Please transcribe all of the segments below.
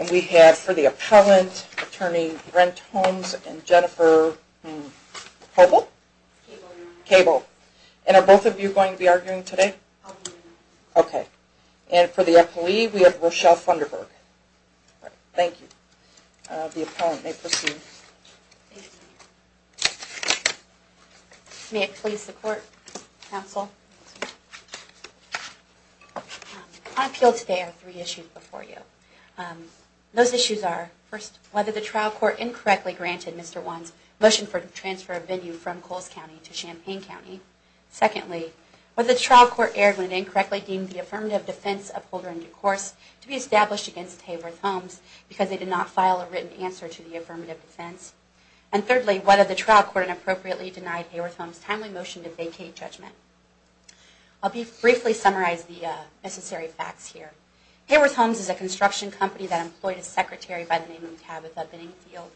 And we have for the appellant, Attorney Brent Holmes and Jennifer Holt. Thank you. Thank you. Thank you. And for Hey-Pull? Cable. And are both of you going to be arguing today? I'll be doing that. Okay. And for the appealey we have Rochelle Pfunderburgh. Thank you. THE appellant may proceed. May it please the Court, Counsel. I appeal today on three issues before you. Those issues are, first, whether the trial court incorrectly granted Mr. Wann's motion for the transfer of venue from Coles County to Champaign County. Secondly, whether the trial court erred when it incorrectly deemed the affirmative defense of Holder and DeCourse to be established against Hayworth Homes because they did not file a written answer to the affirmative defense. And thirdly, whether the trial court inappropriately denied Hayworth Homes' timely motion to vacate judgment. I'll briefly summarize the necessary facts here. Hayworth Homes is a construction company that employed a secretary by the name of Tabitha Binningfield.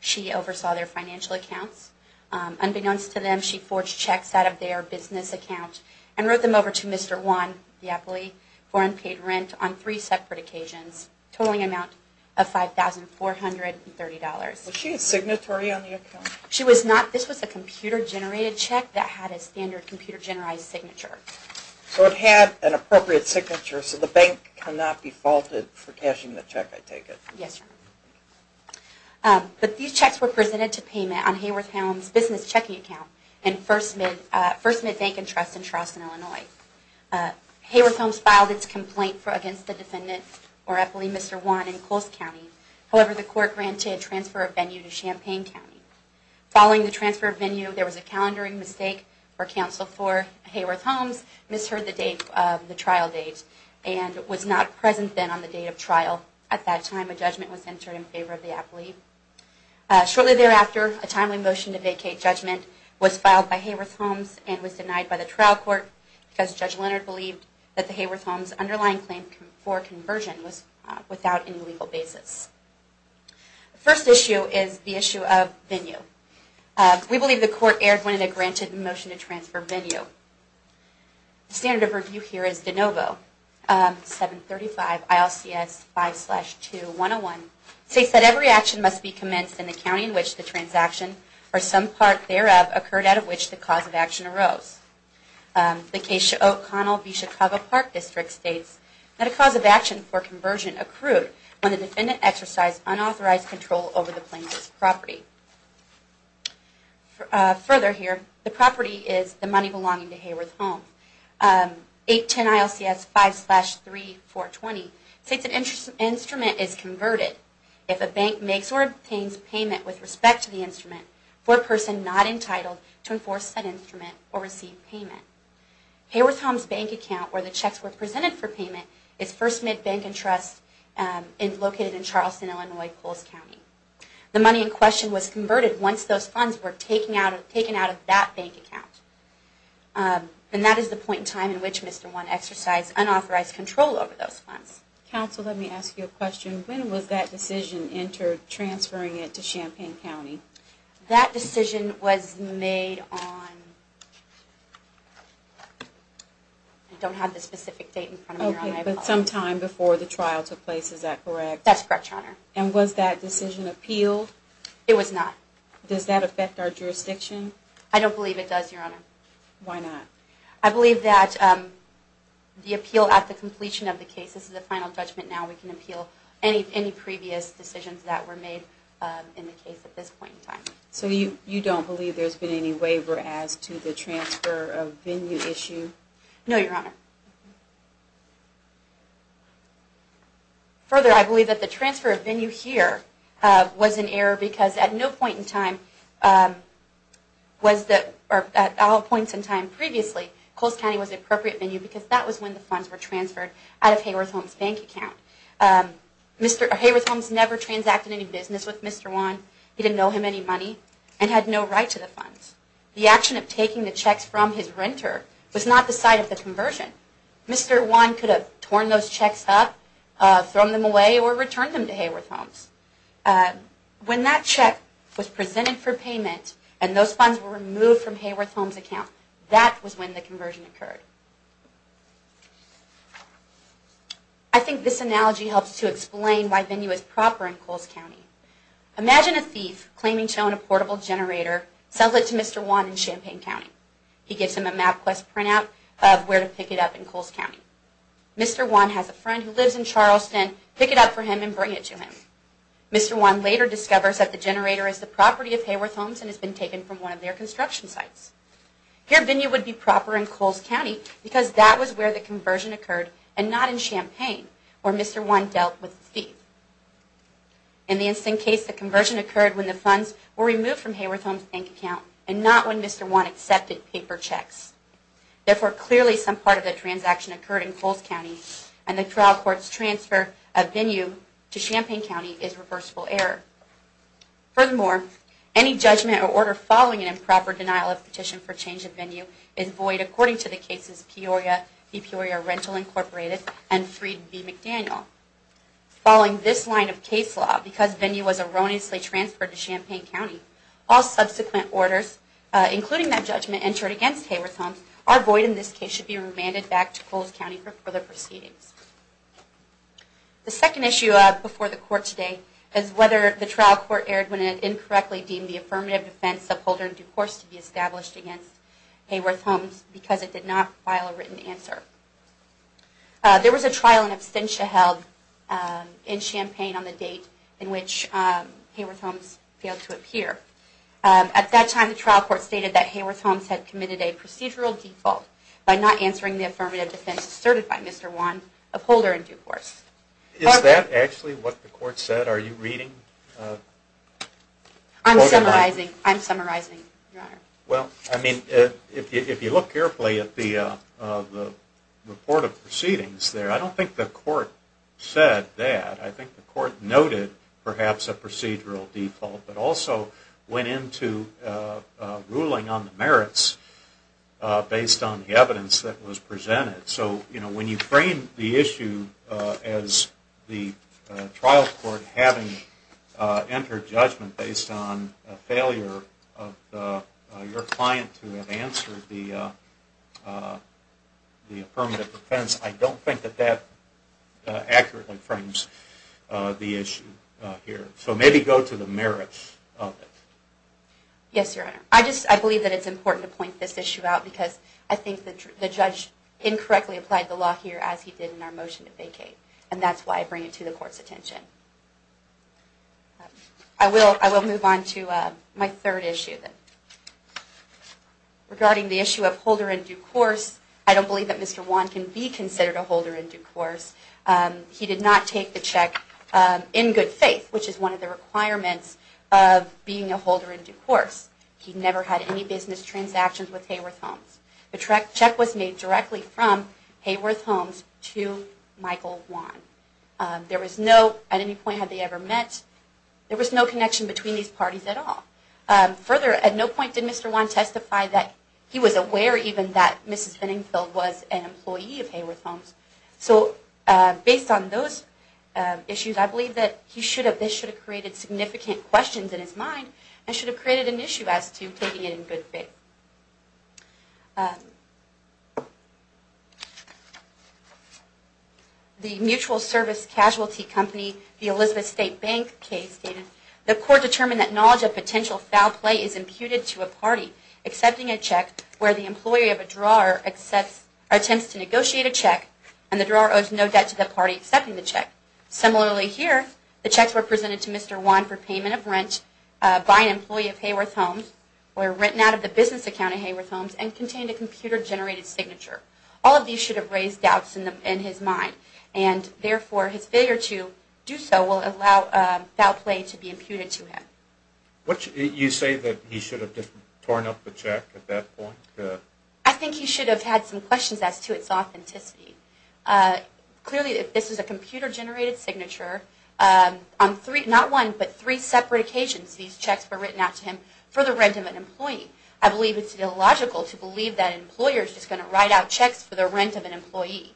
She oversaw their financial accounts. Unbeknownst to them, she forged checks out of their business account and wrote them over to Mr. Wann, the appellee, for unpaid rent on three separate occasions, totaling an amount of $5,430. Was she a signatory on the account? She was not. This was a computer-generated check that had a standard computer-generated signature. So it had an appropriate signature, so the bank cannot be faulted for cashing the check, I take it? Yes, Your Honor. But these checks were presented to payment on Hayworth Homes' business checking account in First Mid Bank & Trust in Charleston, Illinois. Hayworth Homes filed its complaint against the defendant or appellee, Mr. Wann, in Coles County. However, the court granted transfer of venue to Champaign County. Following the transfer of venue, there was a calendaring mistake for counsel for Hayworth Homes, misheard the trial date, and was not present then on the date of trial. At that time, a judgment was entered in favor of the appellee. Shortly thereafter, a timely motion to vacate judgment was filed by Hayworth Homes and was denied by the trial court because Judge Leonard believed that the Hayworth Homes underlying claim for conversion was without any legal basis. The first issue is the issue of venue. We believe the court erred when it granted the motion to transfer venue. The standard of review here is de novo. 735 ILCS 5-2-101 states that every action must be commenced in the county in which the transaction or some part thereof occurred out of which the cause of action arose. The case of O'Connell v. Chicago Park District states that a cause of action for conversion accrued when the defendant exercised unauthorized control over the plaintiff's property. Further here, the property is the money belonging to Hayworth Homes. 810 ILCS 5-3-420 states an instrument is converted if a bank makes or obtains payment with respect to the instrument for a person not entitled to enforce said instrument or receive payment. Hayworth Homes' bank account where the checks were presented for payment is First Midbank & Trust located in Charleston, Illinois, Poles County. The money in question was converted once those funds were taken out of that bank account. And that is the point in time in which Mr. One exercised unauthorized control over those funds. Counsel, let me ask you a question. When was that decision entered, transferring it to Champaign County? That decision was made on... I don't have the specific date in front of me, Your Honor. Okay, but sometime before the trial took place, is that correct? That's correct, Your Honor. And was that decision appealed? It was not. Does that affect our jurisdiction? I don't believe it does, Your Honor. Why not? I believe that the appeal at the completion of the case, this is a final judgment now, we can appeal any previous decisions that were made in the case at this point in time. So you don't believe there's been any waiver as to the transfer of venue issue? No, Your Honor. Further, I believe that the transfer of venue here was an error because at no point in time was that, or at all points in time previously, Coles County was the appropriate venue because that was when the funds were transferred out of Hayworth Holmes' bank account. Mr. Hayworth Holmes never transacted any business with Mr. One. He didn't owe him any money and had no right to the funds. The action of taking the checks from his renter was not the site of the conversion. Mr. One could have torn those checks up, thrown them away, or returned them to Hayworth Holmes. When that check was presented for payment and those funds were removed from Hayworth Holmes' account, that was when the conversion occurred. I think this analogy helps to explain why venue is proper in Coles County. Imagine a thief claiming to own a portable generator, sells it to Mr. One in Champaign County. He gives him a MapQuest printout of where to pick it up in Coles County. Mr. One has a friend who lives in Charleston pick it up for him and bring it to him. Mr. One later discovers that the generator is the property of Hayworth Holmes and has been taken from one of their construction sites. Here, venue would be proper in Coles County because that was where the conversion occurred and not in Champaign where Mr. One dealt with the thief. In the instant case, the conversion occurred when the funds were removed from Hayworth Holmes' bank account and not when Mr. One accepted paper checks. Therefore, clearly some part of the transaction occurred in Coles County and the trial court's transfer of venue to Champaign County is reversible error. Furthermore, any judgment or order following an improper denial of petition for change of venue is void according to the cases Peoria v. Peoria Rental Inc. and Freed v. McDaniel. Following this line of case law, because venue was erroneously transferred to Champaign County, all subsequent orders including that judgment entered against Hayworth Holmes are void and in this case should be remanded back to Coles County for further proceedings. The second issue before the court today is whether the trial court erred when it incorrectly deemed the affirmative defense upholder in due course to be established against Hayworth Holmes because it did not file a written answer. There was a trial in absentia held in Champaign on the date in which Hayworth Holmes failed to appear. At that time, the trial court stated that Hayworth Holmes had committed a procedural default by not answering the affirmative defense asserted by Mr. One, upholder in due course. Is that actually what the court said? Are you reading? Well, I mean, if you look carefully at the report of proceedings there, I don't think the court said that. I think the court noted perhaps a procedural default but also went into ruling on the merits based on the evidence that was presented. So, you know, when you frame the issue as the trial court having entered judgment based on a failure of your client to have answered the affirmative defense, I don't think that that accurately frames the issue here. So maybe go to the merits of it. Yes, Your Honor. I believe that it's important to point this issue out because I think the judge incorrectly applied the law here as he did in our motion to vacate. And that's why I bring it to the court's attention. I will move on to my third issue. Regarding the issue of holder in due course, I don't believe that Mr. One can be considered a holder in due course. He did not take the check in good faith, which is one of the requirements of being a holder in due course. He never had any business transactions with Hayworth Homes. The check was made directly from Hayworth Homes to Michael One. At any point had they ever met, there was no connection between these parties at all. Further, at no point did Mr. One testify that he was aware even that Mrs. Benningfield was an employee of Hayworth Homes. So based on those issues, I believe that this should have created significant questions in his mind and should have created an issue as to taking it in good faith. The mutual service casualty company, the Elizabeth State Bank case stated, The court determined that knowledge of potential foul play is imputed to a party accepting a check where the employee of a drawer attempts to negotiate a check, and the drawer owes no debt to the party accepting the check. Similarly here, the checks were presented to Mr. One for payment of rent by an employee of Hayworth Homes, were written out of the business account of Hayworth Homes, and contained a computer-generated signature. All of these should have raised doubts in his mind, and therefore his failure to do so will allow foul play to be imputed to him. You say that he should have just torn up the check at that point? I think he should have had some questions as to its authenticity. Clearly, this is a computer-generated signature. Not one, but three separate occasions these checks were written out to him for the rent of an employee. I believe it's illogical to believe that an employer is just going to write out checks for the rent of an employee.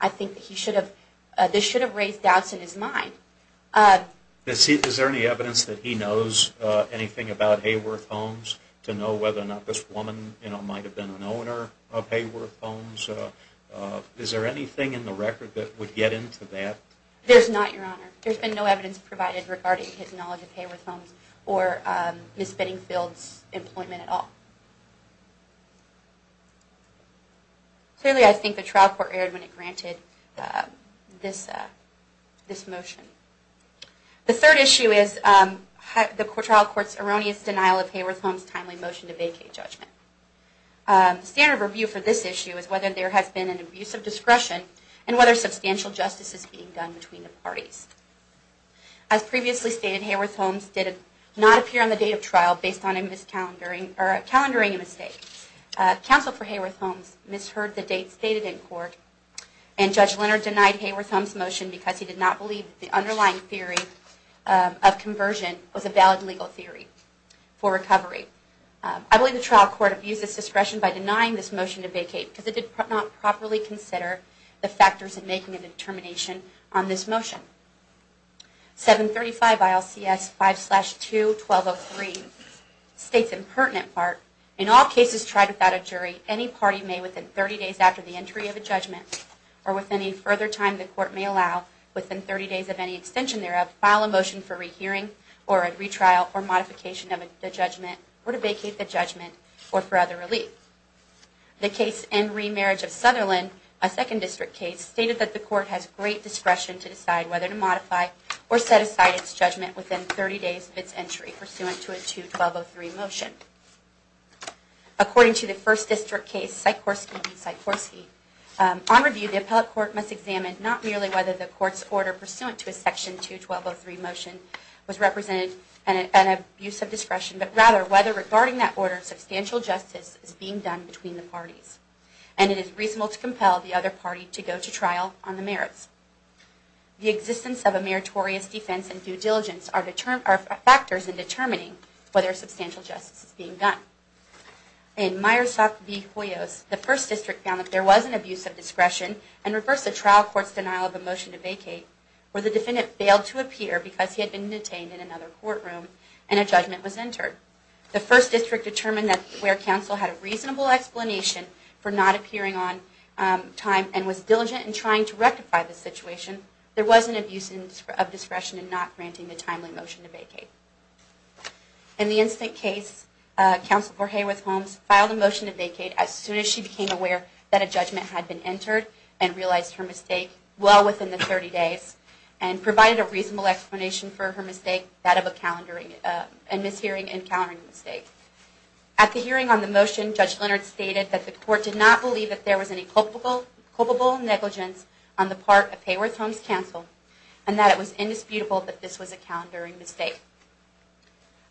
I think this should have raised doubts in his mind. Is there any evidence that he knows anything about Hayworth Homes? To know whether or not this woman might have been an owner of Hayworth Homes? Is there anything in the record that would get into that? There's not, Your Honor. There's been no evidence provided regarding his knowledge of Hayworth Homes or Ms. Benningfield's employment at all. Clearly, I think the trial court erred when it granted this motion. The third issue is the trial court's erroneous denial of Hayworth Homes' timely motion to vacate judgment. The standard of review for this issue is whether there has been an abuse of discretion and whether substantial justice is being done between the parties. As previously stated, Hayworth Homes did not appear on the date of trial based on a miscalendering mistake. Counsel for Hayworth Homes misheard the date stated in court, and Judge Leonard denied Hayworth Homes' motion because he did not believe the underlying theory of conversion was a valid legal theory for recovery. I believe the trial court abused this discretion by denying this motion to vacate because it did not properly consider the factors in making a determination on this motion. 735 ILCS 5-2-1203 states in pertinent part, In all cases tried without a jury, any party may, within 30 days after the entry of a judgment, or within any further time the court may allow, within 30 days of any extension thereof, to file a motion for rehearing, or a retrial, or modification of the judgment, or to vacate the judgment, or for other relief. The case In Remarriage of Sutherland, a 2nd District case, stated that the court has great discretion to decide whether to modify or set aside its judgment within 30 days of its entry pursuant to a 2-1203 motion. According to the 1st District case, Sikorsky v. Sikorsky, On review, the appellate court must examine not merely whether the court's order pursuant to a section 2-1203 motion was represented an abuse of discretion, but rather whether, regarding that order, substantial justice is being done between the parties, and it is reasonable to compel the other party to go to trial on the merits. The existence of a meritorious defense and due diligence are factors in determining whether substantial justice is being done. In Myersoft v. Hoyos, the 1st District found that there was an abuse of discretion, and reversed the trial court's denial of a motion to vacate, where the defendant failed to appear because he had been detained in another courtroom, and a judgment was entered. The 1st District determined that where counsel had a reasonable explanation for not appearing on time, and was diligent in trying to rectify the situation, there was an abuse of discretion in not granting the timely motion to vacate. In the incident case, Counselor Hayworth Holmes filed a motion to vacate as soon as she became aware that a judgment had been entered, and realized her mistake well within the 30 days, and provided a reasonable explanation for her mistake, that of a calendaring and mishearing and calendaring mistake. At the hearing on the motion, Judge Leonard stated that the court did not believe that there was any culpable negligence on the part of Hayworth Holmes Counsel, and that it was indisputable that this was a calendaring mistake.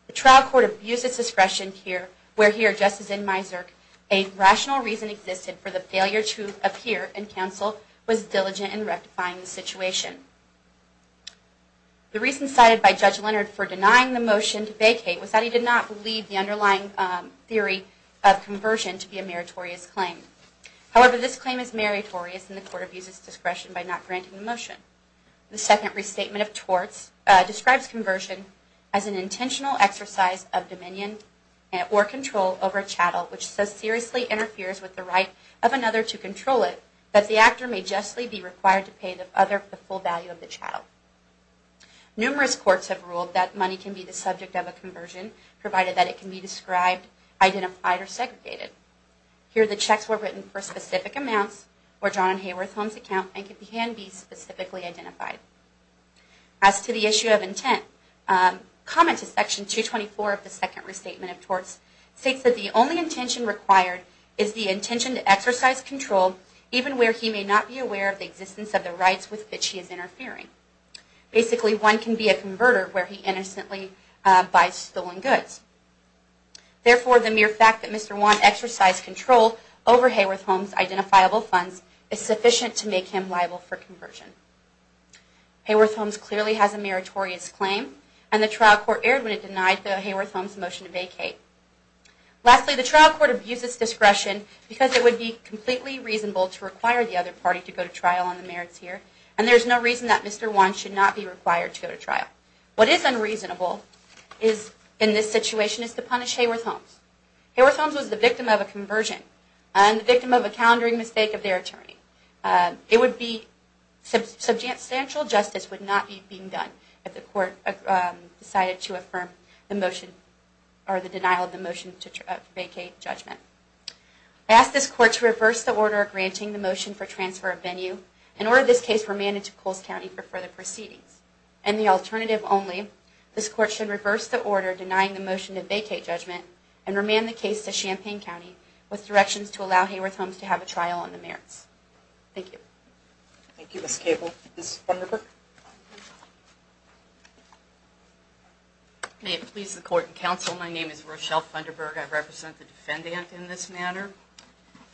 The trial court abused its discretion here, where here, just as in Miserc, a rational reason existed for the failure to appear, and Counsel was diligent in rectifying the situation. The reason cited by Judge Leonard for denying the motion to vacate, was that he did not believe the underlying theory of conversion to be a meritorious claim. However, this claim is meritorious, and the court abused its discretion by not granting the motion. The second restatement of torts describes conversion as an intentional exercise of dominion or control over a chattel, which so seriously interferes with the right of another to control it, that the actor may justly be required to pay the full value of the chattel. Numerous courts have ruled that money can be the subject of a conversion, provided that it can be described, identified, or segregated. Here, the checks were written for specific amounts, were drawn on Hayworth Holmes' account, and can be specifically identified. As to the issue of intent, comment to section 224 of the second restatement of torts states that the only intention required is the intention to exercise control, even where he may not be aware of the existence of the rights with which he is interfering. Basically, one can be a converter where he innocently buys stolen goods. Therefore, the mere fact that Mr. Wan exercised control over Hayworth Holmes' identifiable funds is sufficient to make him liable for conversion. Hayworth Holmes clearly has a meritorious claim, and the trial court erred when it denied the Hayworth Holmes motion to vacate. Lastly, the trial court abused its discretion because it would be completely reasonable to require the other party to go to trial on the merits here, and there is no reason that Mr. Wan should not be required to go to trial. What is unreasonable in this situation is to punish Hayworth Holmes. Hayworth Holmes was the victim of a conversion, and the victim of a countering mistake of their attorney. Substantial justice would not be being done if the court decided to affirm the motion, or the denial of the motion to vacate judgment. I ask this court to reverse the order granting the motion for transfer of venue, and order this case remanded to Coles County for further proceedings. And the alternative only, this court should reverse the order denying the motion to vacate judgment, and remand the case to Champaign County, with directions to allow Hayworth Holmes to have a trial on the merits. Thank you. Thank you, Ms. Cable. Ms. Funderburg? May it please the court and counsel, my name is Rochelle Funderburg. I represent the defendant in this matter.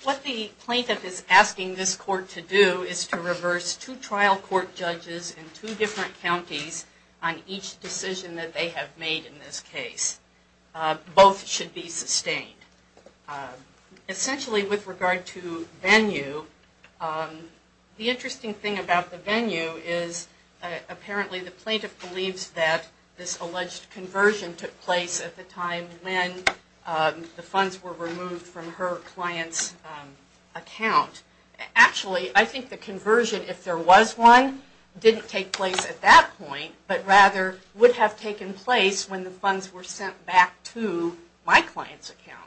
What the plaintiff is asking this court to do is to reverse two trial court judges in two different counties on each decision that they have made in this case. Both should be sustained. Essentially with regard to venue, the interesting thing about the venue is apparently the plaintiff believes that this alleged conversion took place at the time when the funds were removed from her client's account. Actually, I think the conversion, if there was one, didn't take place at that point, but rather would have taken place when the funds were sent back to my client's account.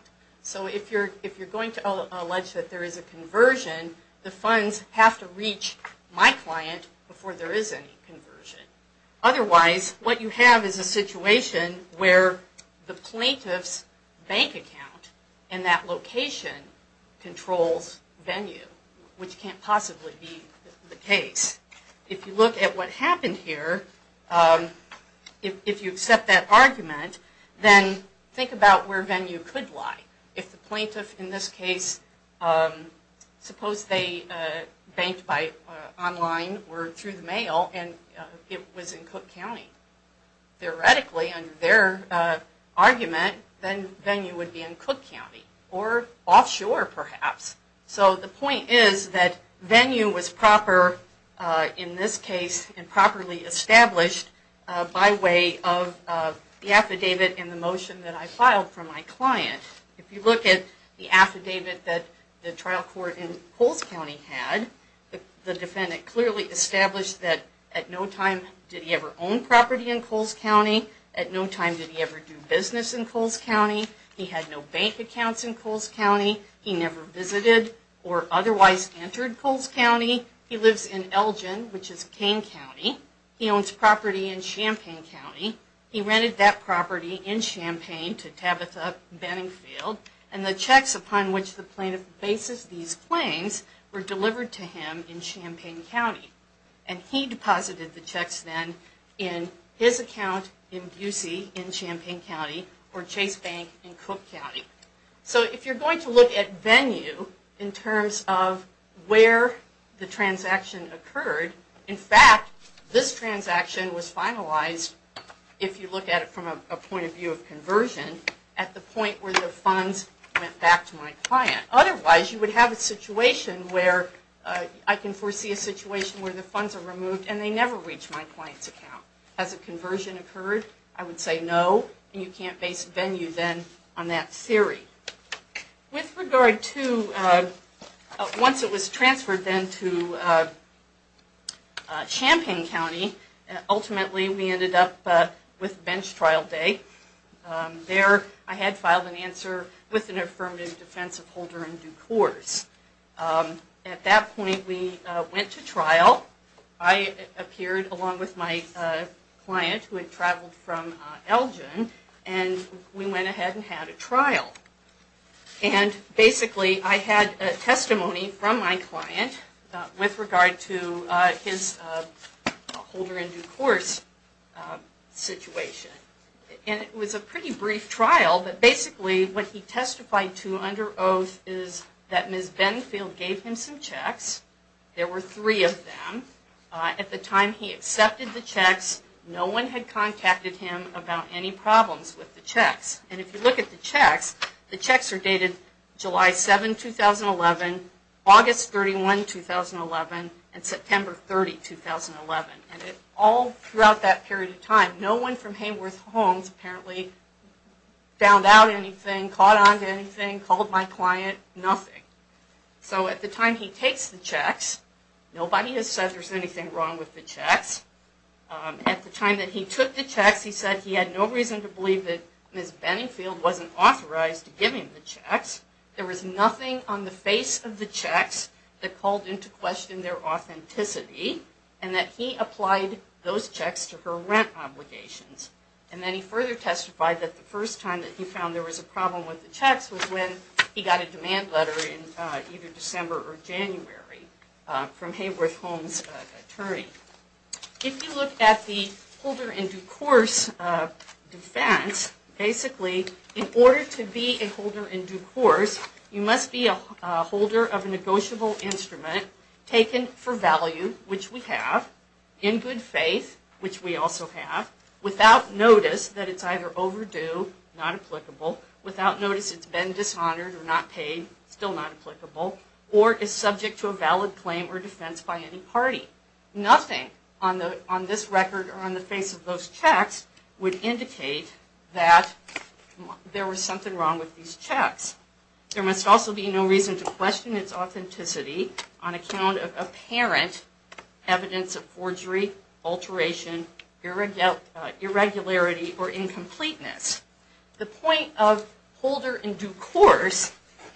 So if you're going to allege that there is a conversion, the funds have to reach my client before there is any conversion. Otherwise, what you have is a situation where the plaintiff's bank account and that location controls venue, which can't possibly be the case. If you look at what happened here, if you accept that argument, then think about where venue could lie. If the plaintiff in this case, suppose they banked online or through the mail and it was in Cook County. Theoretically, under their argument, then venue would be in Cook County or offshore perhaps. So the point is that venue was proper in this case and properly established by way of the affidavit and the motion that I filed for my client. If you look at the affidavit that the trial court in Coles County had, the defendant clearly established that at no time did he ever own property in Coles County. At no time did he ever do business in Coles County. He had no bank accounts in Coles County. He never visited or otherwise entered Coles County. He lives in Elgin, which is Kane County. He owns property in Champaign County. He rented that property in Champaign to Tabitha Benningfield and the checks upon which the plaintiff bases these claims were delivered to him in Champaign County. And he deposited the checks then in his account in Busey in Champaign County or Chase Bank in Cook County. So if you're going to look at venue in terms of where the transaction occurred, in fact, this transaction was finalized, if you look at it from a point of view of conversion, at the point where the funds went back to my client. Otherwise you would have a situation where, I can foresee a situation where the funds are removed and they never reach my client's account. Has a conversion occurred? I would say no. And you can't base venue then on that theory. With regard to, once it was transferred then to Champaign County, ultimately we ended up with bench trial day. There I had filed an answer with an affirmative defense of holder in due course. At that point we went to trial. I appeared along with my client who had traveled from Elgin and we went ahead and had a trial. And basically I had a testimony from my client with regard to his holder in due course situation. And it was a pretty brief trial, but basically what he testified to under oath is that Ms. Benfield gave him some checks. There were three of them. At the time he accepted the checks, no one had contacted him about any problems with the checks. And if you look at the checks, the checks are dated July 7, 2011, August 31, 2011, and September 30, 2011. And all throughout that period of time, no one from Hayworth Homes apparently found out anything, caught on to anything, called my client, nothing. So at the time he takes the checks, nobody has said there's anything wrong with the checks. At the time that he took the checks he said he had no reason to believe that Ms. Benfield wasn't authorized to give him the checks. There was nothing on the face of the checks that called into question their authenticity and that he applied those checks to her rent obligations. And then he further testified that the first time that he found there was a problem with the checks was when he got a demand letter in either December or January from Hayworth Homes' attorney. If you look at the holder in due course defense, basically in order to be a holder in due course you must be a holder of a negotiable instrument taken for value, which we have, in good faith, which we also have, without notice that it's either overdue, not applicable, without notice it's been dishonored or not paid, still not applicable, or is subject to a valid claim or defense by any party. Nothing on this record or on the face of those checks would indicate that there was something wrong with these checks. There must also be no reason to question its authenticity on account of apparent evidence of forgery, alteration, irregularity, or incompleteness. The point of holder in due course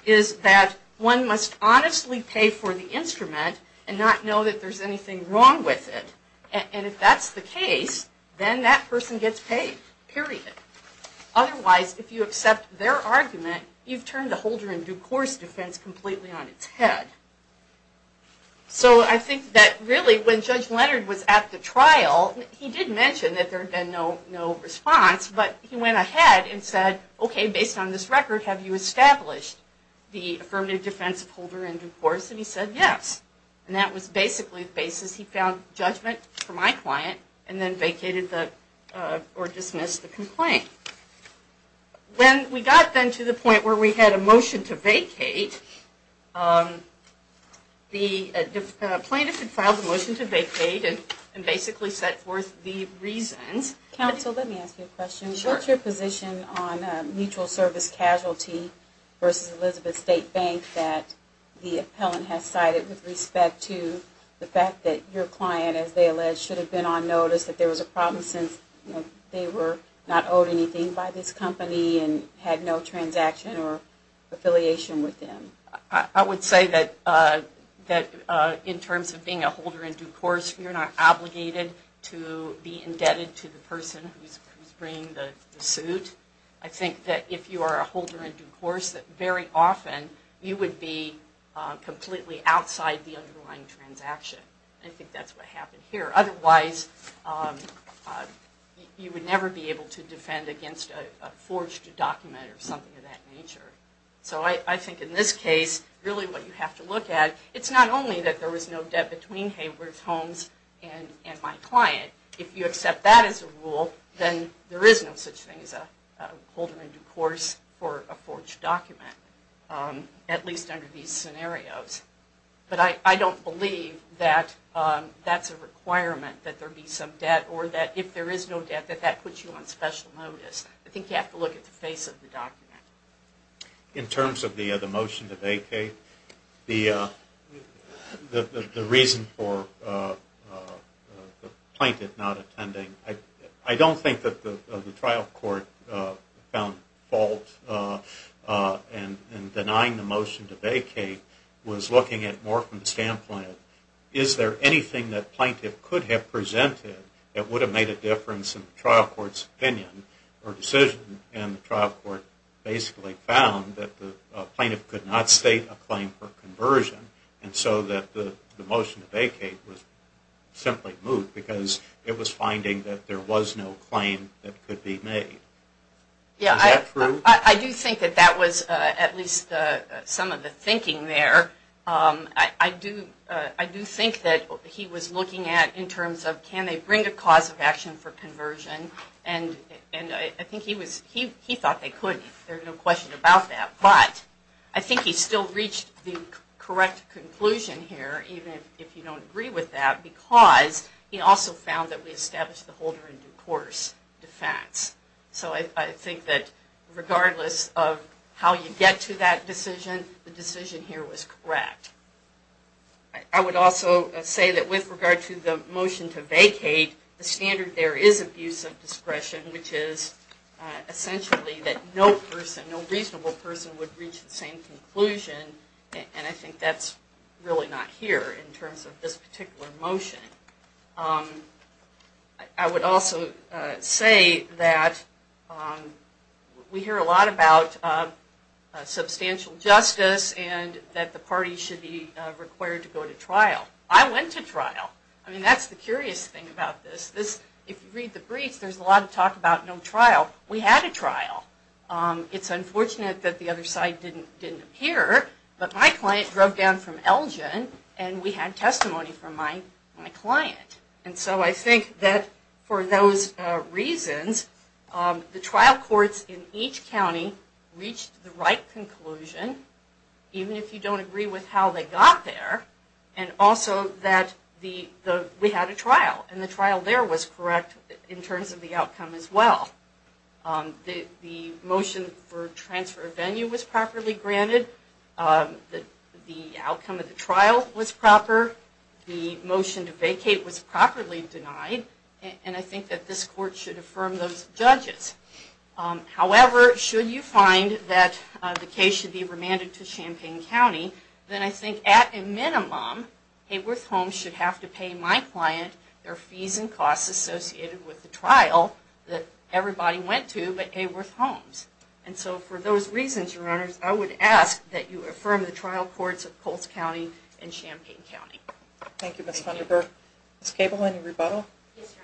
is that one must honestly pay for the instrument and not know that there's anything wrong with it. And if that's the case, then that person gets paid, period. Otherwise, if you accept their argument, you've turned the holder in due course defense completely on its head. So I think that really when Judge Leonard was at the trial, he did mention that there had been no response, but he went ahead and said, okay, based on this record, have you established the affirmative defense of holder in due course? And he said yes. And that was basically the basis he found judgment for my client and then vacated or dismissed the complaint. When we got then to the point where we had a motion to vacate, the plaintiff had filed a motion to vacate and basically set forth the reasons. Counsel, let me ask you a question. What's your position on a mutual service casualty versus Elizabeth State Bank that the appellant has cited with respect to the fact that your client, as they allege, should have been on notice that there was a problem since they were not owed anything by this company and had no transaction or affiliation with them? I would say that in terms of being a holder in due course, you're not obligated to be indebted to the person who's bringing the suit. I think that if you are a holder in due course, that very often you would be completely outside the underlying transaction. I think that's what happened here. Otherwise, you would never be able to defend against a forged document or something of that nature. So I think in this case, really what you have to look at, it's not only that there was no debt between Hayward's Homes and my client. If you accept that as a rule, then there is no such thing as a holder in due course for a forged document, at least under these scenarios. But I don't believe that that's a requirement that there be some debt or that if there is no debt that that puts you on special notice. I think you have to look at the face of the document. In terms of the motion to vacate, the reason for the plaintiff not attending, I don't think that the trial court found fault in denying the motion to vacate. It was looking at it more from the standpoint of, is there anything that the plaintiff could have presented that would have made a difference in the trial court's opinion or decision, and the trial court basically found that the plaintiff could not state a claim for conversion. And so that the motion to vacate was simply moved because it was finding that there was no claim that could be made. Is that true? I do think that that was at least some of the thinking there. I do think that he was looking at in terms of can they bring a cause of action for conversion and I think he thought they could, there's no question about that. But I think he still reached the correct conclusion here, even if you don't agree with that, because he also found that we established the holder in due course defense. So I think that regardless of how you get to that decision, the decision here was correct. I would also say that with regard to the motion to vacate, the standard there is abuse of discretion, which is essentially that no person, no reasonable person, would reach the same conclusion. And I think that's really not here in terms of this particular motion. I would also say that we hear a lot about substantial justice and that the parties should be required to go to trial. I went to trial. I mean, that's the curious thing about this. If you read the briefs, there's a lot of talk about no trial. We had a trial. It's unfortunate that the other side didn't appear, but my client drove down from Elgin and we had testimony from my client. And so I think that for those reasons, the trial courts in each county reached the right conclusion, even if you don't agree with how they got there, and also that we had a trial. And the trial there was correct in terms of the outcome as well. The motion for transfer of venue was properly granted. The outcome of the trial was proper. The motion to vacate was properly denied. And I think that this court should affirm those judges. However, should you find that the case should be remanded to Champaign County, then I think at a minimum, Hayworth Homes should have to pay my client their fees and costs associated with the trial that everybody went to but Hayworth Homes. And so for those reasons, Your Honor, I would ask that you affirm the trial courts of Colts County and Champaign County. Thank you, Ms. Vunderburg. Ms. Cable, any rebuttal? Yes,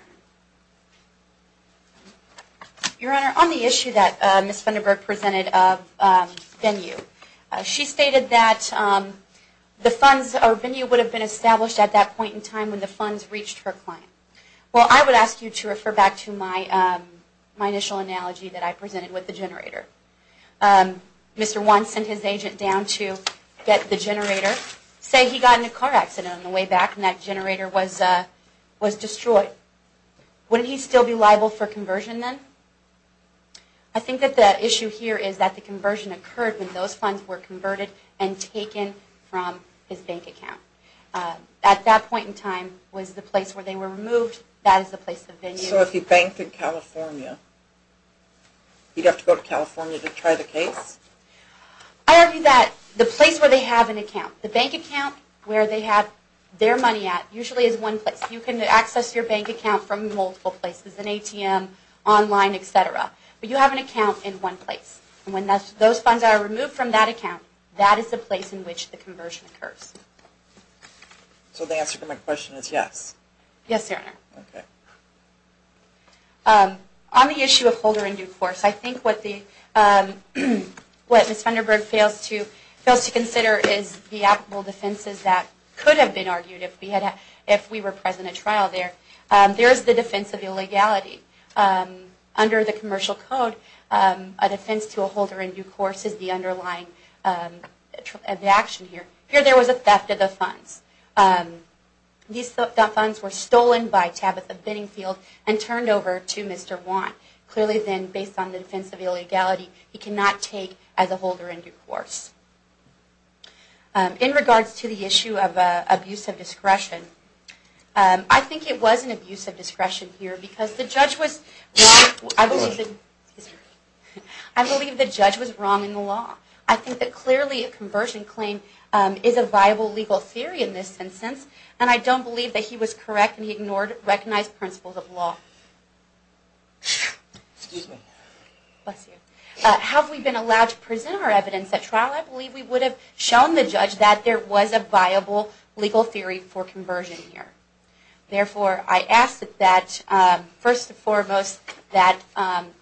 Your Honor. Your Honor, on the issue that Ms. Vunderburg presented of venue, she stated that the venue would have been established at that point in time when the funds reached her client. Well, I would ask you to refer back to my initial analogy that I presented with the generator. Mr. Wan sent his agent down to get the generator. Say he got in a car accident on the way back and that generator was destroyed. Wouldn't he still be liable for conversion then? I think that the issue here is that the conversion occurred when those funds were converted and taken from his bank account. At that point in time was the place where they were removed. That is the place of venue. So if he banked in California, he'd have to go to California to try the case? I argue that the place where they have an account, the bank account where they have their money at usually is one place. You can access your bank account from multiple places, an ATM, online, etc. But you have an account in one place. And when those funds are removed from that account, that is the place in which the conversion occurs. So the answer to my question is yes? Yes, sir. Okay. On the issue of holder in due course, I think what Ms. Vanderburg fails to consider is the applicable defenses that could have been argued if we were present at trial there. There is the defense of illegality. Under the Commercial Code, a defense to a holder in due course is the underlying action here. Here there was a theft of the funds. These funds were stolen by Tabitha Biddingfield and turned over to Mr. Want. Clearly then, based on the defense of illegality, he cannot take as a holder in due course. I think it was an abuse of discretion here. I believe the judge was wrong in the law. I think that clearly a conversion claim is a viable legal theory in this instance. And I don't believe that he was correct and he ignored recognized principles of law. Have we been allowed to present our evidence at trial? I believe we would have shown the judge that there was a viable legal theory for conversion here. Therefore, I ask that first and foremost that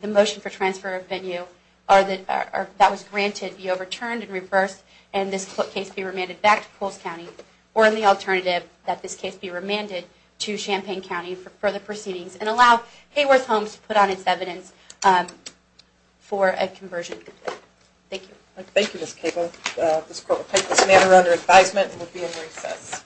the motion for transfer of venue that was granted be overturned and reversed and this case be remanded back to Poles County, or in the alternative that this case be remanded to Champaign County for further proceedings and allow Hayworth Homes to put on its evidence for a conversion. Thank you. Thank you, Ms. Cable. This court will take this matter under advisement and will be in recess.